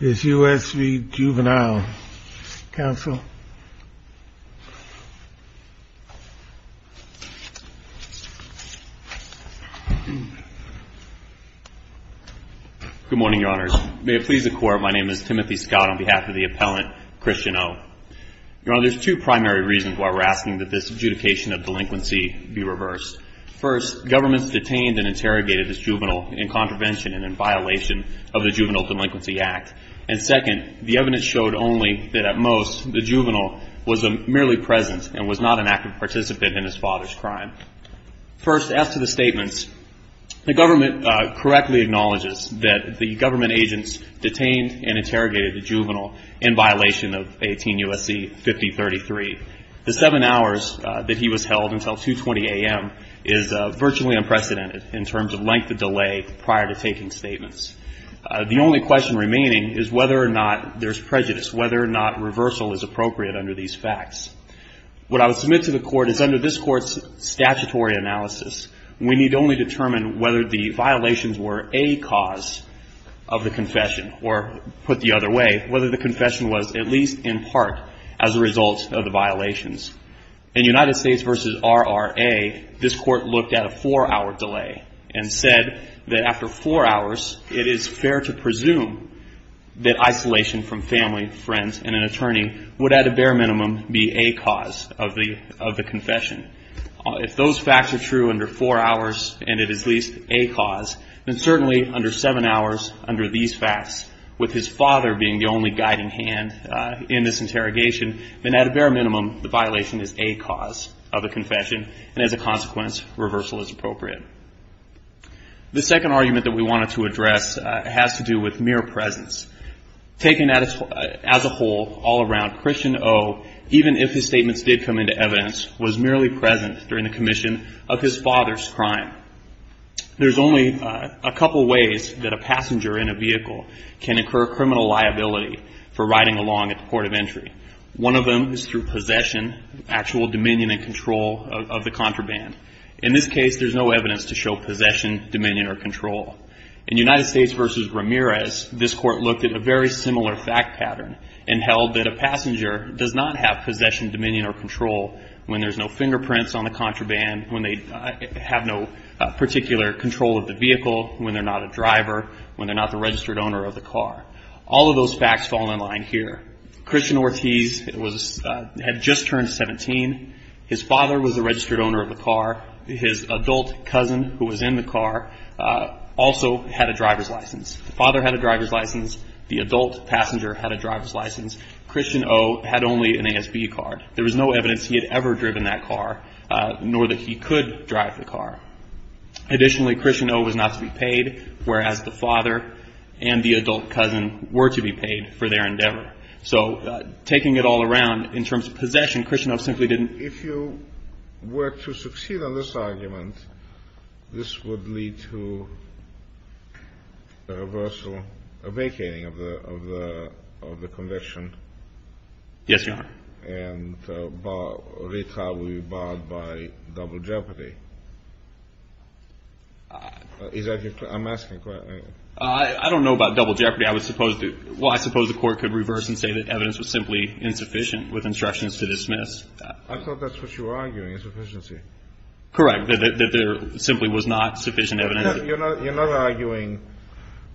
Is U.S. v. Juvenile. Council. Good morning, your honors. May it please the court, my name is Timothy Scott on behalf of the appellant Christian O. Your honor, there's two primary reasons why we're asking that this adjudication of delinquency be reversed. First, governments detained and interrogated this juvenile in contravention and in violation of the Juvenile Delinquency Act. And second, the evidence showed only that at most the juvenile was merely present and was not an active participant in his father's crime. First, as to the statements, the government correctly acknowledges that the government agents detained and interrogated the juvenile in violation of 18 U.S.C. 5033. The seven hours that he was held until 2.20 a.m. is virtually unprecedented in terms of length of delay prior to taking statements. The only question remaining is whether or not there's prejudice, whether or not reversal is appropriate under these facts. What I would submit to the court is under this court's statutory analysis, we need only determine whether the violations were a cause of the In United States v. RRA, this court looked at a four-hour delay and said that after four hours, it is fair to presume that isolation from family, friends, and an attorney would at a bare minimum be a cause of the confession. If those facts are true under four hours and it is at least a cause, then certainly under seven hours, under these facts, with his father being the only guiding hand in this interrogation, then at a bare minimum, the violation is a cause of the confession, and as a consequence, reversal is appropriate. The second argument that we wanted to address has to do with mere presence. Taken as a whole, all around, Christian O., even if his statements did come into evidence, was merely present during the commission of his father's crime. There's only a couple ways that a passenger in a vehicle can incur criminal liability for riding along at the port of entry. One of them is through possession, actual dominion and control of the contraband. In this case, there's no evidence to show possession, dominion, or control. In United States v. Ramirez, this court looked at a very similar fact pattern and held that a passenger does not have possession, dominion, or control when there's no fingerprints on the contraband, when they have no particular control of the vehicle, when they're not a driver, when they're not the registered owner of the car. All of those facts fall in line here. Christian Ortiz had just turned 17. His father was the registered owner of the car. His adult cousin who was in the car also had a driver's license. The father had a driver's license. The adult passenger had a driver's license. Christian O. had only an ASB card. There was no evidence he had ever driven that car, nor that he could drive the car. Additionally, Christian O. was not to be paid, whereas the father and the adult cousin were to be paid for their endeavor. So taking it all around, in terms of possession, Christian O. simply didn't. If you were to succeed on this argument, this would lead to a reversal, a vacating of the conviction. Yes, Your Honor. And retrial would be barred by double jeopardy. Is that your question? I'm asking a question. I don't know about double jeopardy. I was supposed to. Well, I suppose the Court could reverse and say that evidence was simply insufficient with instructions to dismiss. I thought that's what you were arguing, insufficiency. Correct, that there simply was not sufficient evidence. You're not arguing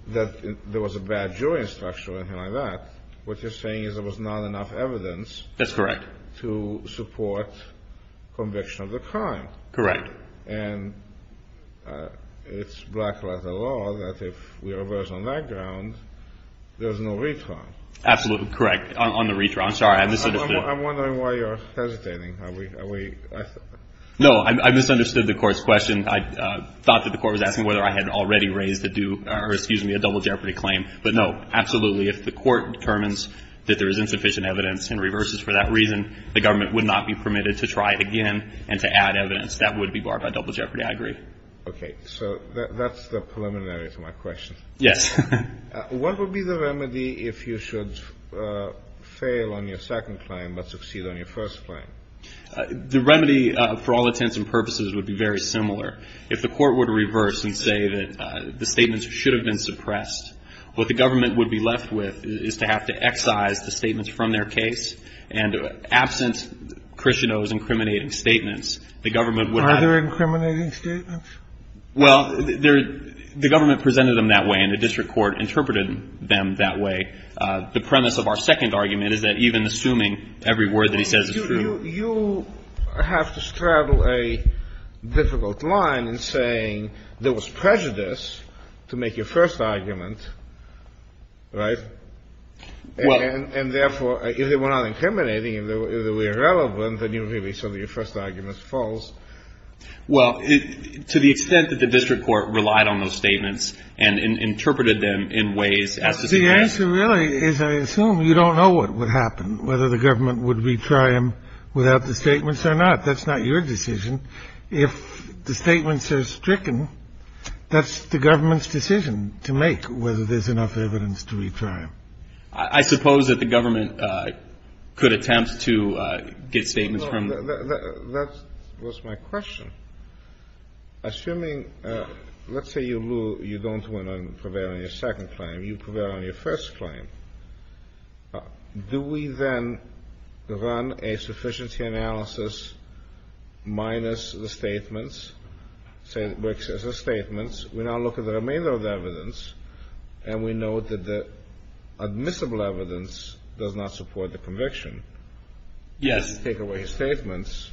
that there was a bad jury structure or anything like that. What you're saying is there was not enough evidence to support conviction of the crime. Correct. And it's black-letter law that if we reverse on that ground, there's no retrial. Absolutely correct, on the retrial. I'm sorry, I misunderstood. I'm wondering why you're hesitating. No, I misunderstood the Court's question. I thought that the Court was asking whether I had already raised a double jeopardy claim. But no, absolutely, if the Court determines that there is insufficient evidence and reverses for that reason, the government would not be permitted to try again and to add evidence. That would be barred by double jeopardy, I agree. Okay. So that's the preliminary to my question. Yes. What would be the remedy if you should fail on your second claim but succeed on your first claim? The remedy, for all intents and purposes, would be very similar. If the Court were to reverse and say that the statements should have been suppressed, what the government would be left with is to have to excise the statements from their case. And absent Christiano's incriminating statements, the government would not be able to do that. Are there incriminating statements? Well, the government presented them that way and the district court interpreted them that way. The premise of our second argument is that even assuming every word that he says is true. You have to straddle a difficult line in saying there was prejudice to make your first argument, right? Well. And therefore, if they were not incriminating, if they were irrelevant, then you would really say that your first argument is false. Well, to the extent that the district court relied on those statements and interpreted them in ways as to suggest. The answer really is I assume you don't know what would happen, whether the government would retry them without the statements or not. That's not your decision. If the statements are stricken, that's the government's decision to make, whether there's enough evidence to retry them. I suppose that the government could attempt to get statements from. That was my question. Assuming, let's say you don't prevail on your second claim. You prevail on your first claim. Do we then run a sufficiency analysis minus the statements? Say it works as a statement. We now look at the remainder of the evidence, and we know that the admissible evidence does not support the conviction. Yes. Take away his statements.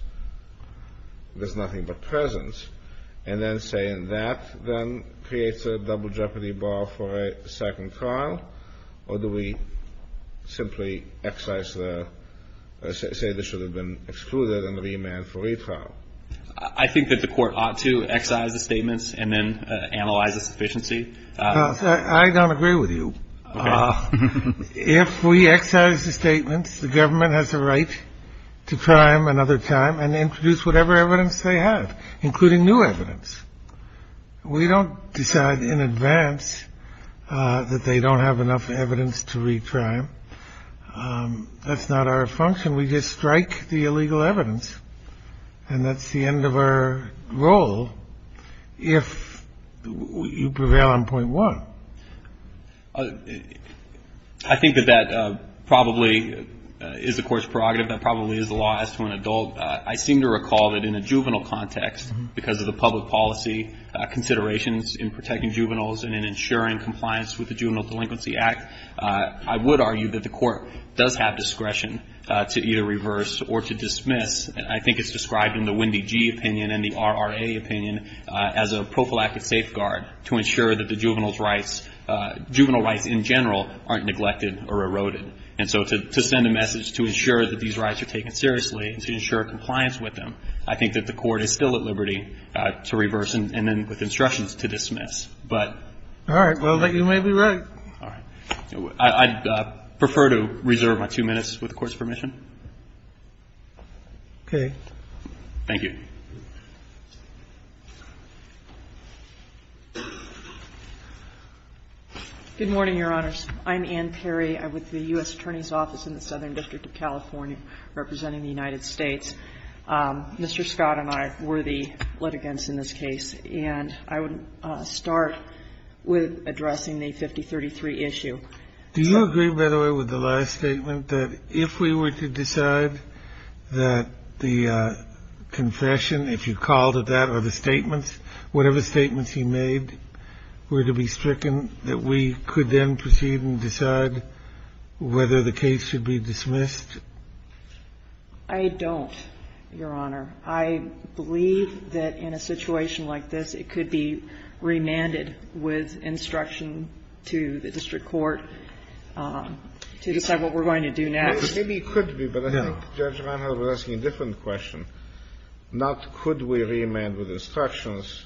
There's nothing but presence. And then saying that then creates a double jeopardy bar for a second trial? Or do we simply excise the say this should have been excluded and remand for a trial? I think that the Court ought to excise the statements and then analyze the sufficiency. I don't agree with you. If we excise the statements, the government has a right to try them another time and introduce whatever evidence they have, including new evidence. We don't decide in advance that they don't have enough evidence to retry them. That's not our function. We just strike the illegal evidence. And that's the end of our role if you prevail on point one. I think that that probably is the Court's prerogative. That probably is the law as to an adult. I seem to recall that in a juvenile context, because of the public policy considerations in protecting juveniles and in ensuring compliance with the Juvenile Delinquency Act, I would argue that the Court does have discretion to either reverse or to dismiss. I think it's described in the Wendy Gee opinion and the RRA opinion as a prophylactic safeguard to ensure that the juvenile's rights, juvenile rights in general, aren't neglected or eroded. And so to send a message to ensure that these rights are taken seriously and to ensure compliance with them, I think that the Court is still at liberty to reverse and then with instructions to dismiss. But you may be right. All right. I'd prefer to reserve my two minutes with the Court's permission. Okay. Thank you. Good morning, Your Honors. I'm Ann Perry. I'm with the U.S. Attorney's Office in the Southern District of California representing the United States. Mr. Scott and I were the litigants in this case. And I would start with addressing the 5033 issue. Do you agree, by the way, with the last statement, that if we were to decide that the confession, if you called it that, or the statements, whatever statements he made were to be stricken, that we could then proceed and decide whether the case should be dismissed? I don't, Your Honor. I believe that in a situation like this, it could be remanded with instruction to the district court to decide what we're going to do next. Maybe it could be, but I think Judge Reinhart was asking a different question, not could we remand with instructions.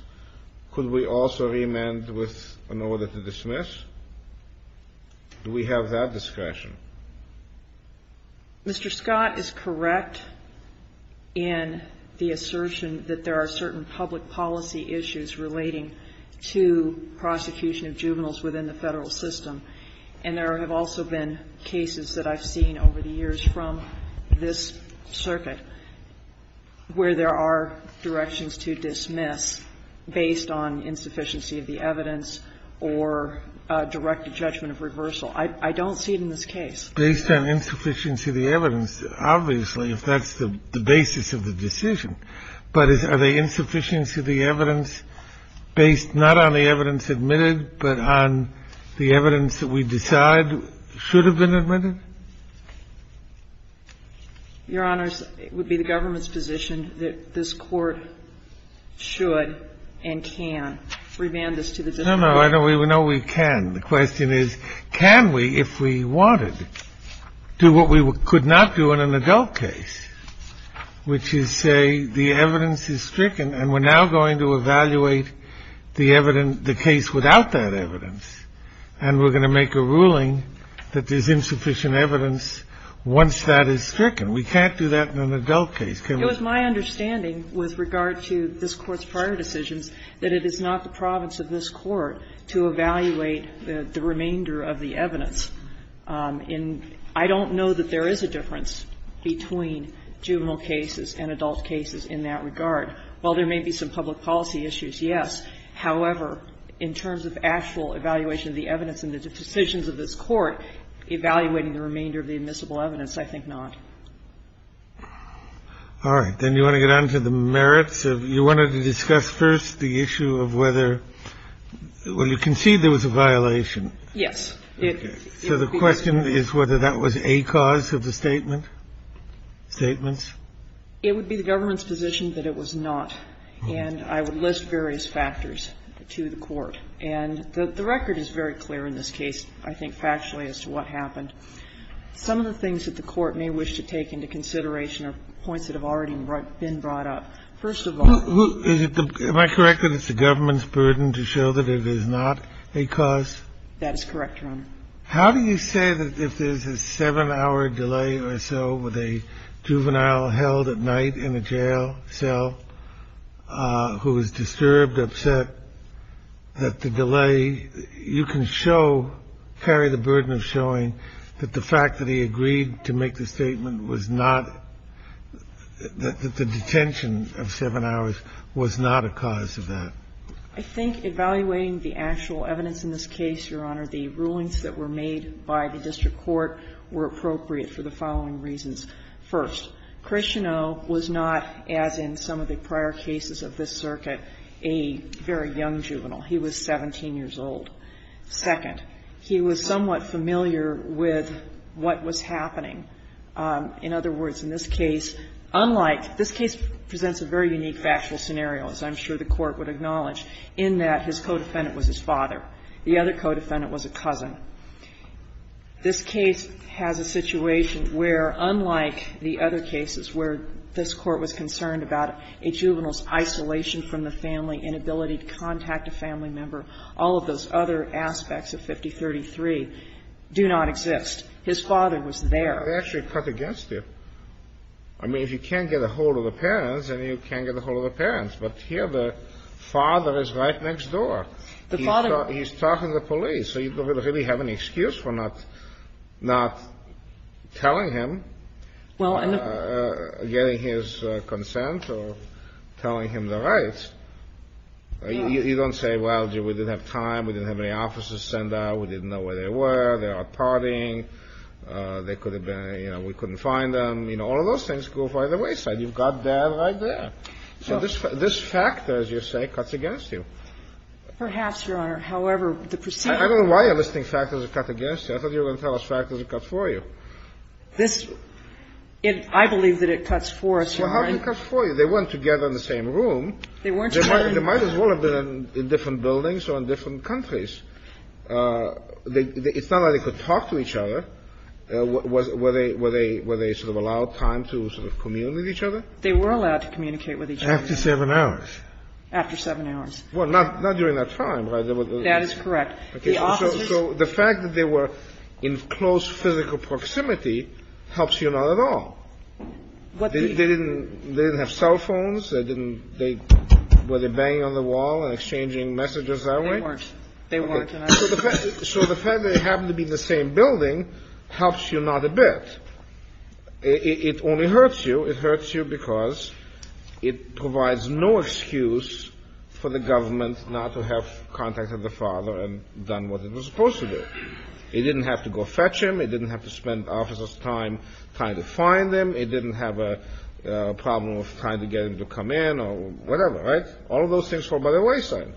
Could we also remand with an order to dismiss? Do we have that discretion? Mr. Scott is correct in the assertion that there are certain public policy issues relating to prosecution of juveniles within the Federal system. And there have also been cases that I've seen over the years from this circuit where there are directions to dismiss based on insufficiency of the evidence or directed judgment of reversal. I don't see it in this case. Based on insufficiency of the evidence, obviously, if that's the basis of the decision. But are the insufficiencies of the evidence based not on the evidence admitted but on the evidence that we decide should have been admitted? Your Honors, it would be the government's position that this Court should and can remand this to the district court. No, no, I know we can. The question is, can we, if we wanted, do what we could not do in an adult case, which is say the evidence is stricken and we're now going to evaluate the case without that evidence, and we're going to make a ruling that there's insufficient evidence once that is stricken? We can't do that in an adult case, can we? It was my understanding with regard to this Court's prior decisions that it is not the province of this Court to evaluate the remainder of the evidence. And I don't know that there is a difference between juvenile cases and adult cases in that regard. While there may be some public policy issues, yes. However, in terms of actual evaluation of the evidence and the decisions of this Court, evaluating the remainder of the admissible evidence, I think not. All right. Then you want to get on to the merits of you wanted to discuss first the issue of whether, well, you concede there was a violation. Yes. So the question is whether that was a cause of the statement, statements? It would be the government's position that it was not. And I would list various factors to the Court. And the record is very clear in this case, I think factually, as to what happened. Some of the things that the Court may wish to take into consideration are points that have already been brought up. First of all, who is it? Am I correct that it's the government's burden to show that it is not a cause? That is correct, Your Honor. How do you say that if there's a 7-hour delay or so with a juvenile held at night in a jail cell who is disturbed, upset, that the delay, you can show, carry the burden of showing that the fact that he agreed to make the statement was not, that the detention of 7 hours was not a cause of that? I think evaluating the actual evidence in this case, Your Honor, the rulings that were made by the district court were appropriate for the following reasons. First, Christianeau was not, as in some of the prior cases of this circuit, a very young juvenile. He was 17 years old. Second, he was somewhat familiar with what was happening. In other words, in this case, unlike — this case presents a very unique factual scenario, as I'm sure the Court would acknowledge, in that his co-defendant was his father. The other co-defendant was a cousin. This case has a situation where, unlike the other cases where this Court was concerned about a juvenile's isolation from the family, inability to contact a family member, all of those other aspects of 5033 do not exist. His father was there. They actually cut against it. I mean, if you can't get a hold of the parents, then you can't get a hold of the parents. But here the father is right next door. The father — he's talking to the police. So you don't really have any excuse for not telling him, getting his consent, or telling him the rights. You don't say, well, we didn't have time. We didn't have any officers sent out. We didn't know where they were. They're out partying. They could have been — you know, we couldn't find them. You know, all of those things go by the wayside. You've got Dad right there. So this factor, as you say, cuts against you. Perhaps, Your Honor. However, the procedure — I don't know why you're listing factors that cut against you. I thought you were going to tell us factors that cut for you. This — I believe that it cuts for us, Your Honor. Well, how did it cut for you? They weren't together in the same room. They weren't together in the same room. They might as well have been in different buildings or in different countries. It's not like they could talk to each other. Were they sort of allowed time to sort of commune with each other? They were allowed to communicate with each other. After 7 hours. After 7 hours. Well, not during that time, right? That is correct. So the fact that they were in close physical proximity helps you not at all. They didn't have cell phones. They didn't — were they banging on the wall and exchanging messages that way? They weren't. They weren't. So the fact that they happened to be in the same building helps you not a bit. It only hurts you. It hurts you because it provides no excuse for the government not to have contacted the father and done what it was supposed to do. It didn't have to go fetch him. It didn't have to spend officers' time trying to find him. It didn't have a problem of trying to get him to come in or whatever, right? All of those things fall by the wayside.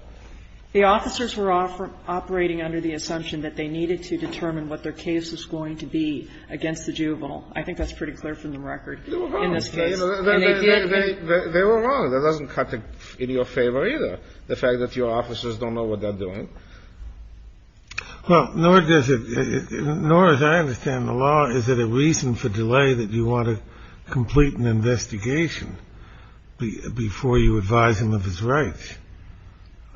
The officers were operating under the assumption that they needed to determine what their case was going to be against the juvenile. I think that's pretty clear from the record in this case. They were wrong. They were wrong. That doesn't cut in your favor either, the fact that your officers don't know what they're doing. Well, nor does it — nor as I understand the law is it a reason for delay that you want to complete an investigation before you advise him of his rights.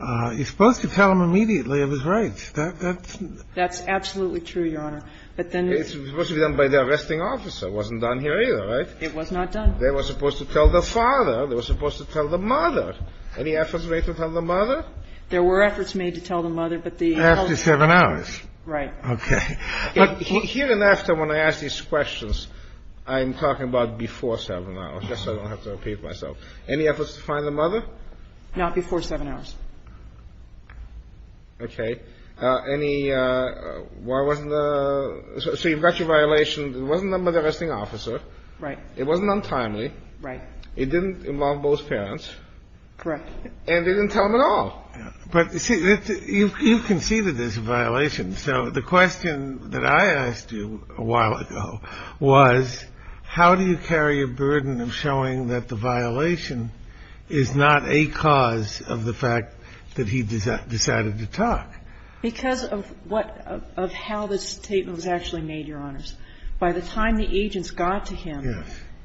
You're supposed to tell him immediately of his rights. That's absolutely true, Your Honor. But then it's supposed to be done by the arresting officer. It wasn't done here either, right? It was not done. They were supposed to tell the father. They were supposed to tell the mother. Any efforts made to tell the mother? There were efforts made to tell the mother, but the — After 7 hours. Right. Okay. Look, here and after when I ask these questions, I'm talking about before 7 hours. Just so I don't have to repeat myself. Any efforts to find the mother? Not before 7 hours. Okay. Okay. Any — why wasn't the — so you've got your violation. It wasn't done by the arresting officer. Right. It wasn't untimely. Right. It didn't involve both parents. Correct. And they didn't tell him at all. But, you see, you've conceded there's a violation. So the question that I asked you a while ago was how do you carry a burden of showing that the violation is not a cause of the fact that he decided to talk? Because of what — of how the statement was actually made, Your Honors. By the time the agents got to him,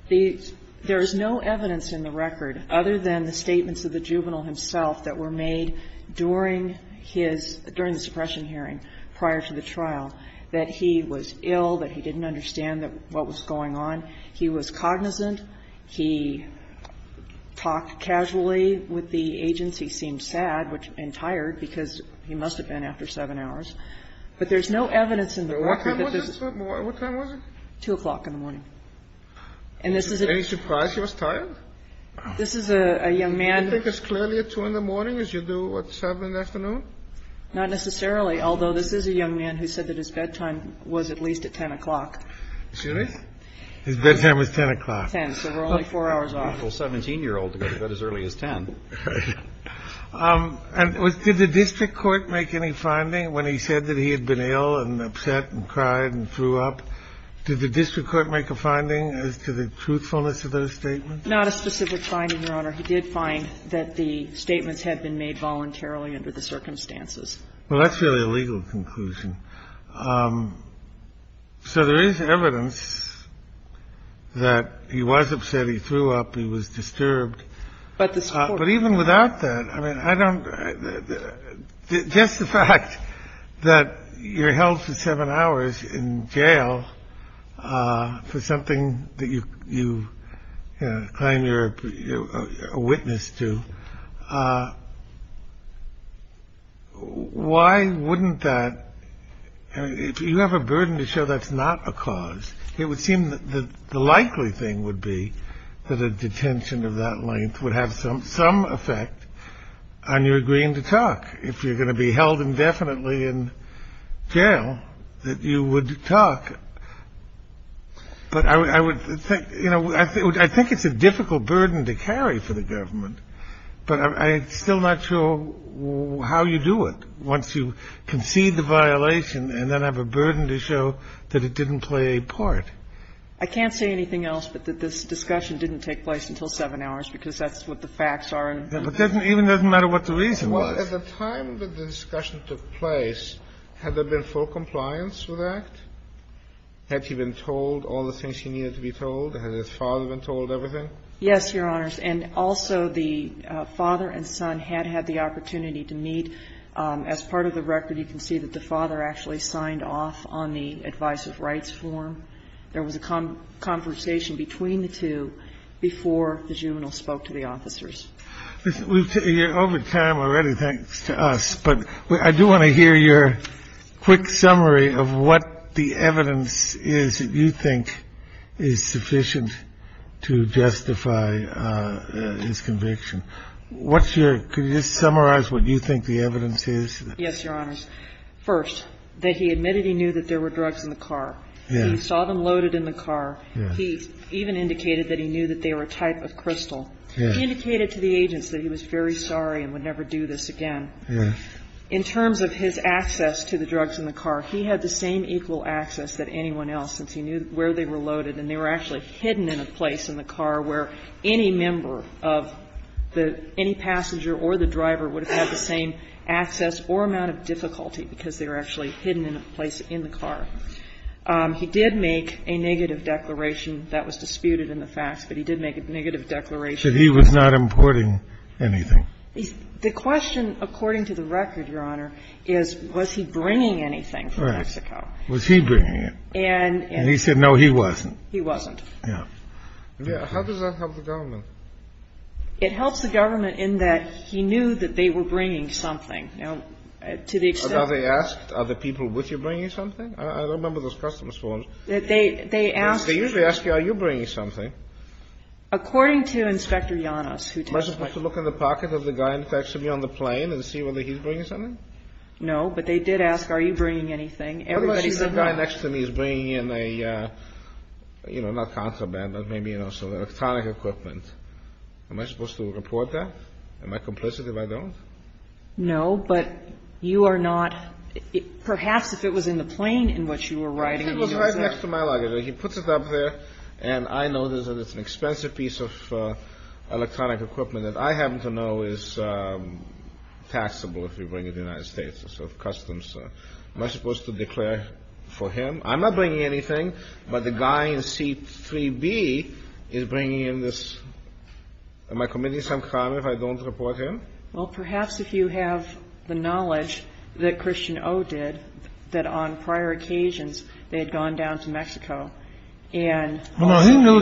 there is no evidence in the record other than the statements of the juvenile himself that were made during his — during the suppression hearing prior to the trial that he was ill, that he didn't understand what was going on, he was cognizant, he talked casually with the agents, he seemed sad and tired because he must have been after 7 hours. But there's no evidence in the record that this is — What time was it? What time was it? 2 o'clock in the morning. And this is a — Any surprise he was tired? This is a young man — Do you think it's clearly at 2 in the morning as you do at 7 in the afternoon? Not necessarily, although this is a young man who said that his bedtime was at least at 10 o'clock. Excuse me? His bedtime was 10 o'clock. 10. So we're only 4 hours off. Well, 17-year-old to go to bed as early as 10. Right. And did the district court make any finding when he said that he had been ill and upset and cried and threw up? Did the district court make a finding as to the truthfulness of those statements? Not a specific finding, Your Honor. He did find that the statements had been made voluntarily under the circumstances. Well, that's really a legal conclusion. So there is evidence that he was upset. He threw up. He was disturbed. But even without that, I mean, I don't — just the fact that you're held for seven hours in jail for something that you claim you're a witness to. Why wouldn't that — if you have a burden to show that's not a cause, it would seem that the likely thing would be that a detention of that length would have some effect on your agreeing to talk. If you're going to be held indefinitely in jail, that you would talk. But I would think — you know, I think it's a difficult burden to carry for the government, but I'm still not sure how you do it once you concede the violation and then have a burden to show that it didn't play a part. I can't say anything else but that this discussion didn't take place until seven hours because that's what the facts are. It doesn't even — it doesn't matter what the reason was. But at the time that the discussion took place, had there been full compliance with that? Had he been told all the things he needed to be told? Had his father been told everything? Yes, Your Honors. And also, the father and son had had the opportunity to meet. As part of the record, you can see that the father actually signed off on the advice of rights form. There was a conversation between the two before the juvenile spoke to the officers. Over time already, thanks to us. But I do want to hear your quick summary of what the evidence is that you think is sufficient to justify his conviction. What's your — could you just summarize what you think the evidence is? Yes, Your Honors. First, that he admitted he knew that there were drugs in the car. Yes. He saw them loaded in the car. He even indicated that he knew that they were a type of crystal. Yes. He indicated to the agents that he was very sorry and would never do this again. Yes. In terms of his access to the drugs in the car, he had the same equal access that anyone else, since he knew where they were loaded. And they were actually hidden in a place in the car where any member of the — any passenger or the driver would have had the same access or amount of difficulty because they were actually hidden in a place in the car. He did make a negative declaration. The question, according to the record, Your Honor, is, was he bringing anything from Mexico? Correct. Was he bringing it? And he said, no, he wasn't. He wasn't. Yes. How does that help the government? It helps the government in that he knew that they were bringing something. Now, to the extent — Are they asked, are the people with you bringing something? I don't remember those customers' forms. They ask — They usually ask for a receipt. They ask you, are you bringing something? According to Inspector Yanos, who testified — Was he supposed to look in the pocket of the guy next to me on the plane and see whether he's bringing something? No. But they did ask, are you bringing anything? Everybody said no. What if the guy next to me is bringing in a, you know, not contraband, but maybe, you know, some electronic equipment? Am I supposed to report that? Am I complicit if I don't? No. But you are not — perhaps if it was in the plane in which you were riding — The guy next to my luggage, he puts it up there, and I notice that it's an expensive piece of electronic equipment that I happen to know is taxable if you bring it to the United States. It's sort of customs. Am I supposed to declare for him? I'm not bringing anything, but the guy in seat 3B is bringing in this — am I committing some crime if I don't report him? Well, perhaps if you have the knowledge that Christian O. did, that on prior occasions they had gone down to Mexico and — Well, he knew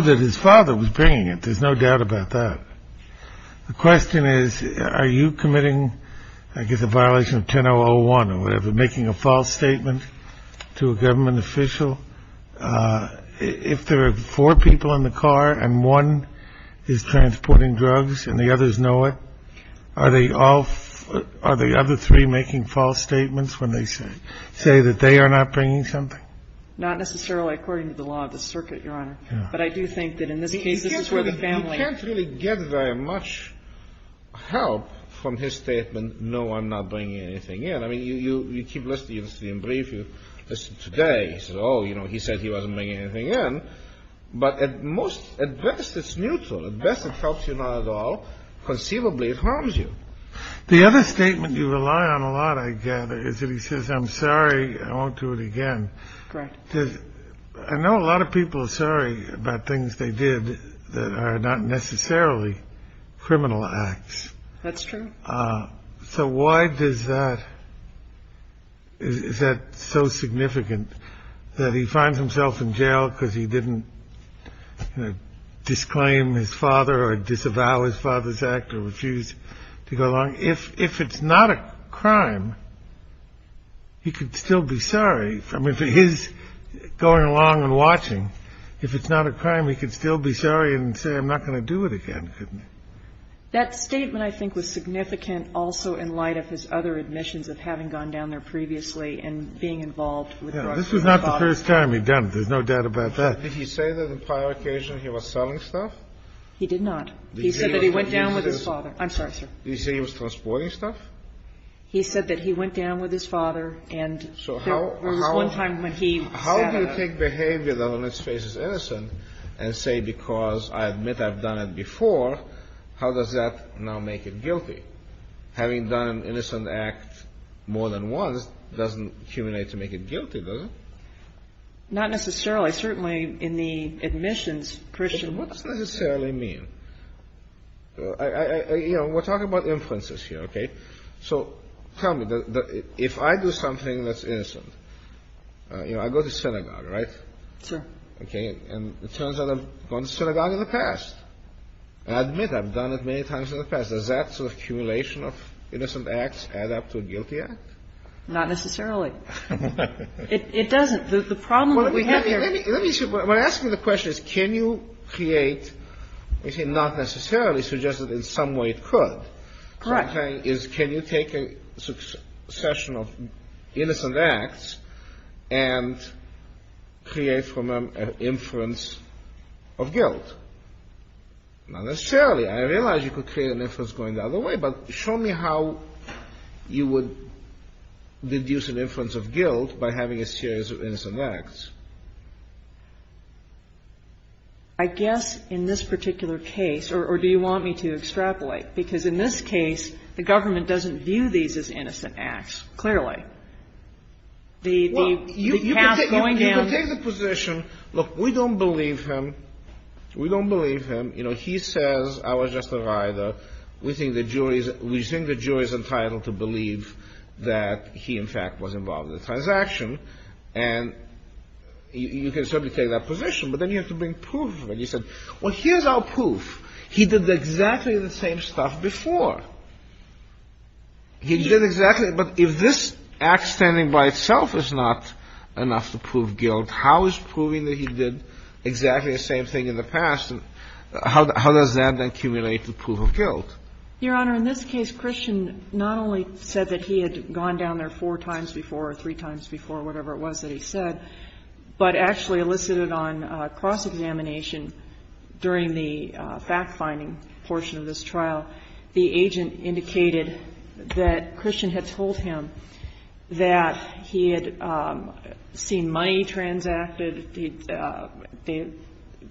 that his father was bringing it. There's no doubt about that. The question is, are you committing, I guess, a violation of 1001 or whatever, making a false statement to a government official? If there are four people in the car and one is transporting drugs and the others know it, are they all — are the other three making false statements when they say that they are not bringing something? Not necessarily according to the law of the circuit, Your Honor. But I do think that in this case, this is where the family — You can't really get very much help from his statement, no, I'm not bringing anything in. I mean, you keep listening to the brief. You listen today. He says, oh, you know, he said he wasn't bringing anything in. But at most — at best, it's neutral. At best, it helps you not at all. Conceivably, it harms you. The other statement you rely on a lot, I gather, is that he says, I'm sorry, I won't do it again. Correct. Because I know a lot of people are sorry about things they did that are not necessarily criminal acts. That's true. So why does that — is that so significant, that he finds himself in jail because he didn't disclaim his father or disavow his father's act or refuse to go along? If it's not a crime, he could still be sorry. I mean, for his going along and watching, if it's not a crime, he could still be sorry and say, I'm not going to do it again, couldn't he? That statement, I think, was significant also in light of his other admissions of having gone down there previously and being involved with drugs and his father. This was not the first time he'd done it. There's no doubt about that. Did he say that on prior occasion he was selling stuff? He did not. He said that he went down with his father. I'm sorry, sir. Did he say he was transporting stuff? He said that he went down with his father and there was one time when he sat down. I think that's important. I don't think that's the way to look at it. You have to look at it and say because I admit I've done it before, how does that now make it guilty? Having done an innocent act more than once doesn't accumulate to make it guilty, does it? Not necessarily. Well, certainly in the admissions curriculum. What does necessarily mean? You know, we're talking about inferences here, okay? So tell me, if I do something that's innocent, you know, I go to synagogue, right? Sure. Okay. And it turns out I've gone to synagogue in the past. I admit I've done it many times in the past. Does that sort of accumulation of innocent acts add up to a guilty act? Not necessarily. It doesn't. There's a problem that we have here. Let me see. What I'm asking the question is can you create, you see, not necessarily, so just in some way it could. Correct. Can you take a succession of innocent acts and create from them an inference of guilt? Not necessarily. I realize you could create an inference going the other way, but show me how you would deduce an inference of guilt by having a series of innocent acts. I guess in this particular case, or do you want me to extrapolate? Because in this case, the government doesn't view these as innocent acts, clearly. Well, you could take the position, look, we don't believe him. We don't believe him. You know, he says I was just a rider. We think the jury is entitled to believe that he, in fact, was involved in the transaction. And you can certainly take that position. But then you have to bring proof. And you said, well, here's our proof. He did exactly the same stuff before. He did exactly. But if this act standing by itself is not enough to prove guilt, how is proving that he did exactly the same thing in the past, how does that accumulate to proof of guilt? Your Honor, in this case, Christian not only said that he had gone down there four times before or three times before, whatever it was that he said, but actually elicited on cross-examination during the fact-finding portion of this trial. The agent indicated that Christian had told him that he had seen money transacted, that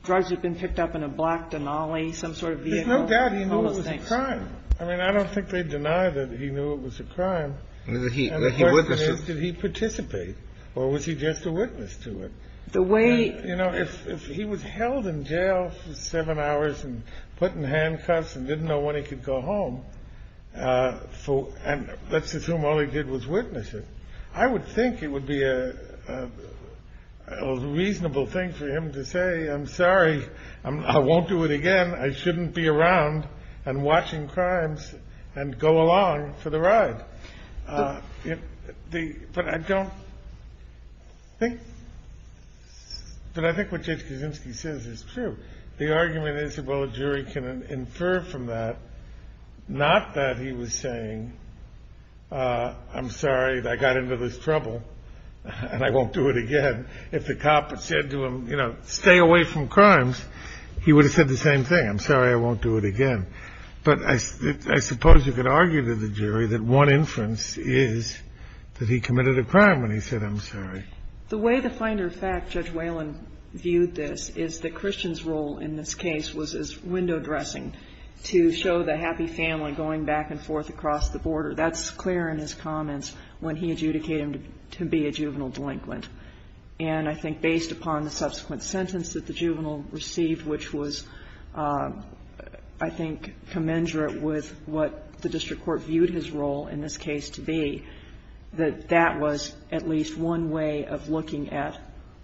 drugs had been picked up in a black Denali, some sort of vehicle. There's no doubt he knew it was a crime. I mean, I don't think they deny that he knew it was a crime. And the question is, did he participate or was he just a witness to it? You know, if he was held in jail for seven hours and put in handcuffs and didn't know when he could go home, and let's assume all he did was witness it, I would think it would be a reasonable thing for him to say, I'm sorry, I won't do it again, I shouldn't be around and watching crimes and go along for the ride. But I think what Judge Kaczynski says is true. The argument is, well, a jury can infer from that, not that he was saying, I'm sorry, I got into this trouble and I won't do it again. If the cop had said to him, you know, stay away from crimes, he would have said the same thing. I'm sorry, I won't do it again. But I suppose you could argue to the jury that one inference is that he committed a crime when he said, I'm sorry. The way the finder of fact Judge Whalen viewed this is that Christian's role in this case was as window dressing to show the happy family going back and forth across the border. That's clear in his comments when he adjudicated him to be a juvenile delinquent. And I think based upon the subsequent sentence that the juvenile received, which was, I think, commensurate with what the district court viewed his role in this case to be, that that was at least one way of looking at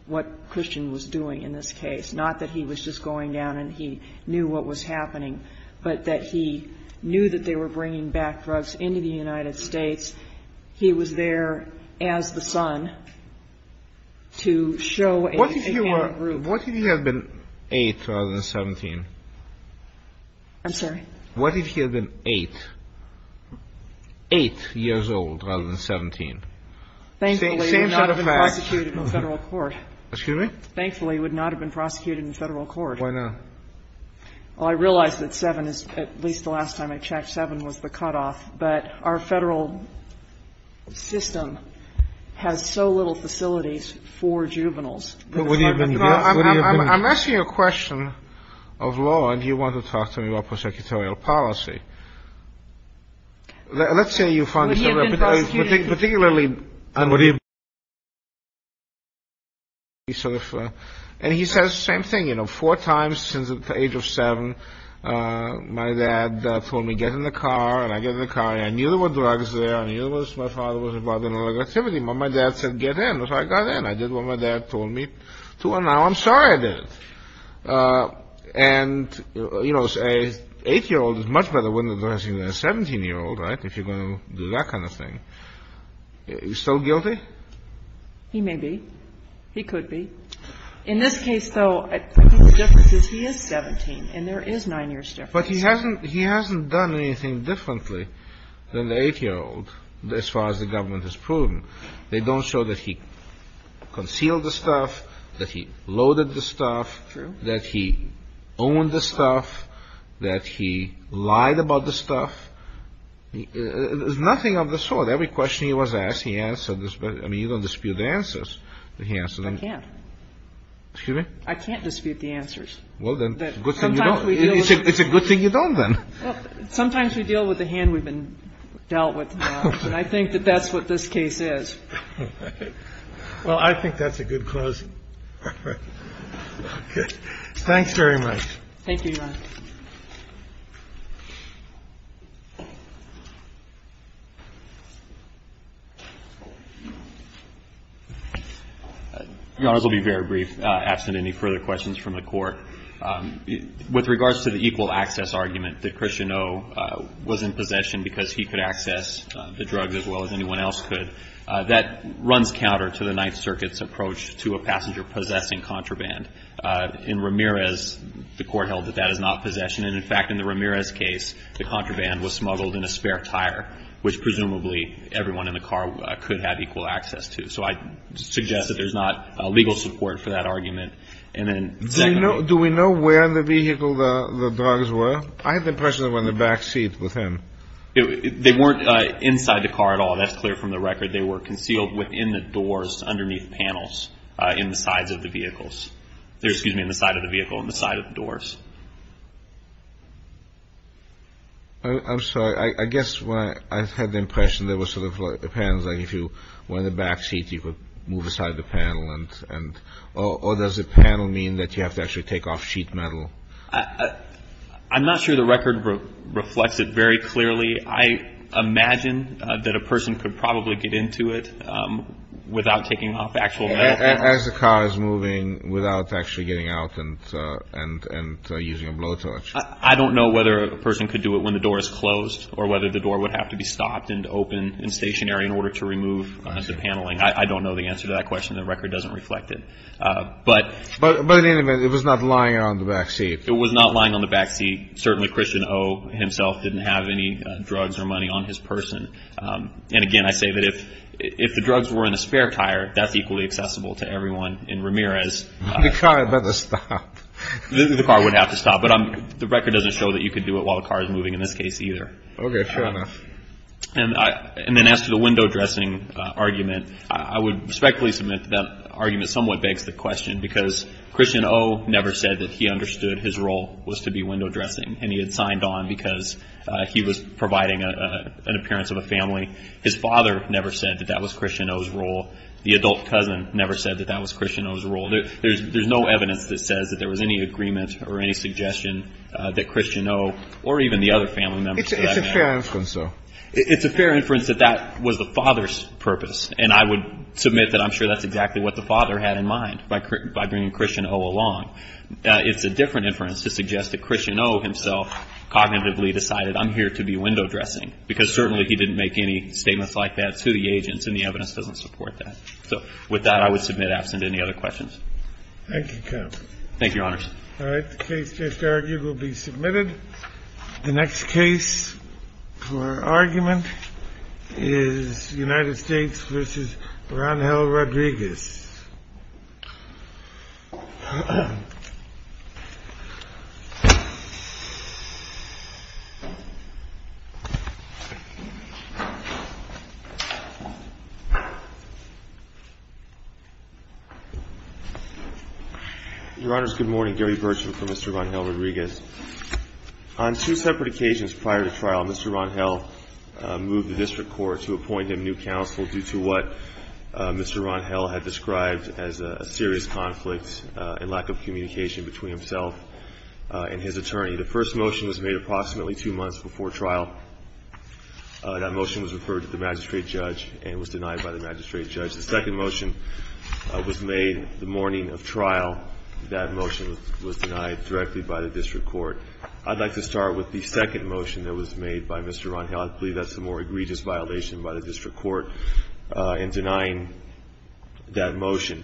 what Christian was doing in this case. Not that he was just going down and he knew what was happening, but that he knew that they were bringing back drugs into the United States. He was there as the son to show a hand of rule. What if he had been 8 rather than 17? I'm sorry? What if he had been 8, 8 years old rather than 17? Thankfully, he would not have been prosecuted in Federal court. Excuse me? Thankfully, he would not have been prosecuted in Federal court. Why not? Well, I realize that 7 is at least the last time I checked. 7 was the cutoff. But our Federal system has so little facilities for juveniles. I'm asking you a question of law. And you want to talk to me about prosecutorial policy. Let's say you find... Would he have been prosecuted? And he says the same thing, you know, four times since the age of 7. My dad told me, get in the car. And I get in the car. And I knew there were drugs there. I knew my father was involved in illegal activity. But my dad said, get in. So I got in. I did what my dad told me to. And now I'm sorry I didn't. And, you know, an 8-year-old is much better at window dressing than a 17-year-old, right, if you're going to do that kind of thing. He's still guilty? He may be. He could be. In this case, though, I think the difference is he is 17. And there is 9 years' difference. But he hasn't done anything differently than the 8-year-old as far as the government has proven. They don't show that he concealed the stuff, that he loaded the stuff, that he owned the stuff, that he lied about the stuff. There's nothing of the sort. Every question he was asked, he answered. I mean, you don't dispute the answers that he answered. I can't. Excuse me? I can't dispute the answers. Well, then, good thing you don't. It's a good thing you don't, then. Sometimes we deal with the hand we've been dealt with. And I think that that's what this case is. Well, I think that's a good closing. All right. Okay. Thanks very much. Thank you, Your Honor. Your Honors, I'll be very brief, absent any further questions from the Court. With regards to the equal access argument that Christian O. was in possession because he could access the drugs as well as anyone else could, that runs counter to the Ninth Circuit's approach to a passenger possessing contraband. In Ramirez, the Court held that that is not possession. And, in fact, in the Ramirez case, the contraband was smuggled in a spare tire, which presumably everyone in the car could have equal access to. So I suggest that there's not legal support for that argument. Do we know where in the vehicle the drugs were? I have the impression they were in the back seat with him. They weren't inside the car at all. That's clear from the record. They were concealed within the doors underneath panels in the sides of the vehicles. Excuse me, in the side of the vehicle on the side of the doors. I'm sorry. I guess I had the impression they were sort of like panels. Like if you were in the back seat, you could move aside the panel. Or does the panel mean that you have to actually take off sheet metal? I'm not sure the record reflects it very clearly. I imagine that a person could probably get into it without taking off actual metal. As the car is moving without actually getting out and using a blowtorch. I don't know whether a person could do it when the door is closed or whether the door would have to be stopped and open and stationary in order to remove the paneling. I don't know the answer to that question. The record doesn't reflect it. But in any event, it was not lying on the back seat. It was not lying on the back seat. Certainly Christian Oh himself didn't have any drugs or money on his person. And again, I say that if the drugs were in a spare tire, that's equally accessible to everyone in Ramirez. The car had better stop. The car would have to stop. But the record doesn't show that you could do it while the car is moving in this case either. Okay, fair enough. And then as to the window dressing argument, I would respectfully submit that that argument somewhat begs the question because Christian Oh never said that he understood his role was to be window dressing and he had signed on because he was providing an appearance of a family. His father never said that that was Christian Oh's role. The adult cousin never said that that was Christian Oh's role. There's no evidence that says that there was any agreement or any suggestion that Christian Oh or even the other family members of that family. It's a fair inference. It's a fair inference that that was the father's purpose. And I would submit that I'm sure that's exactly what the father had in mind by bringing Christian Oh along. It's a different inference to suggest that Christian Oh himself cognitively decided I'm here to be window dressing because certainly he didn't make any statements like that to the agents and the evidence doesn't support that. So with that, I would submit absent any other questions. Thank you, counsel. Thank you, Your Honors. All right. The case just argued will be submitted. The next case for argument is United States v. Rodriguez. On two separate occasions prior to trial, Mr. Ron Hell moved the district court to appoint him new counsel due to what Mr. Ron Hell had described as a serious conflict and lack of communication between himself and his attorney. The first motion was made approximately two months before trial. That motion was referred to the magistrate judge and was denied by the magistrate judge. The second motion was made the morning of trial. That motion was denied directly by the district court. I'd like to start with the second motion that was made by Mr. Ron Hell. I believe that's the more egregious violation by the district court in denying that motion.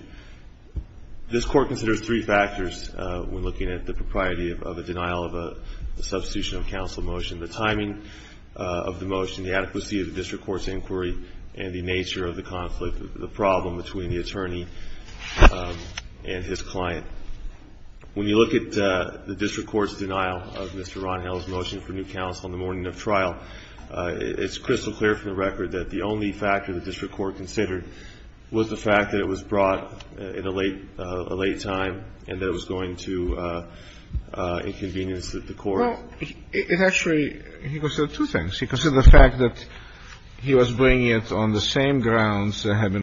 This court considers three factors when looking at the propriety of a denial of a substitution of counsel motion, the timing of the motion, the adequacy of the district court's inquiry, and the nature of the conflict, the problem between the attorney and his client. When you look at the district court's denial of Mr. Ron Hell's motion for new counsel in the morning of trial, it's crystal clear from the record that the only factor the district court considered was the fact that it was brought at a late time and that it was going to inconvenience the court. Well, it actually, he considered two things. He considered the fact that he was bringing it on the same grounds that had been brought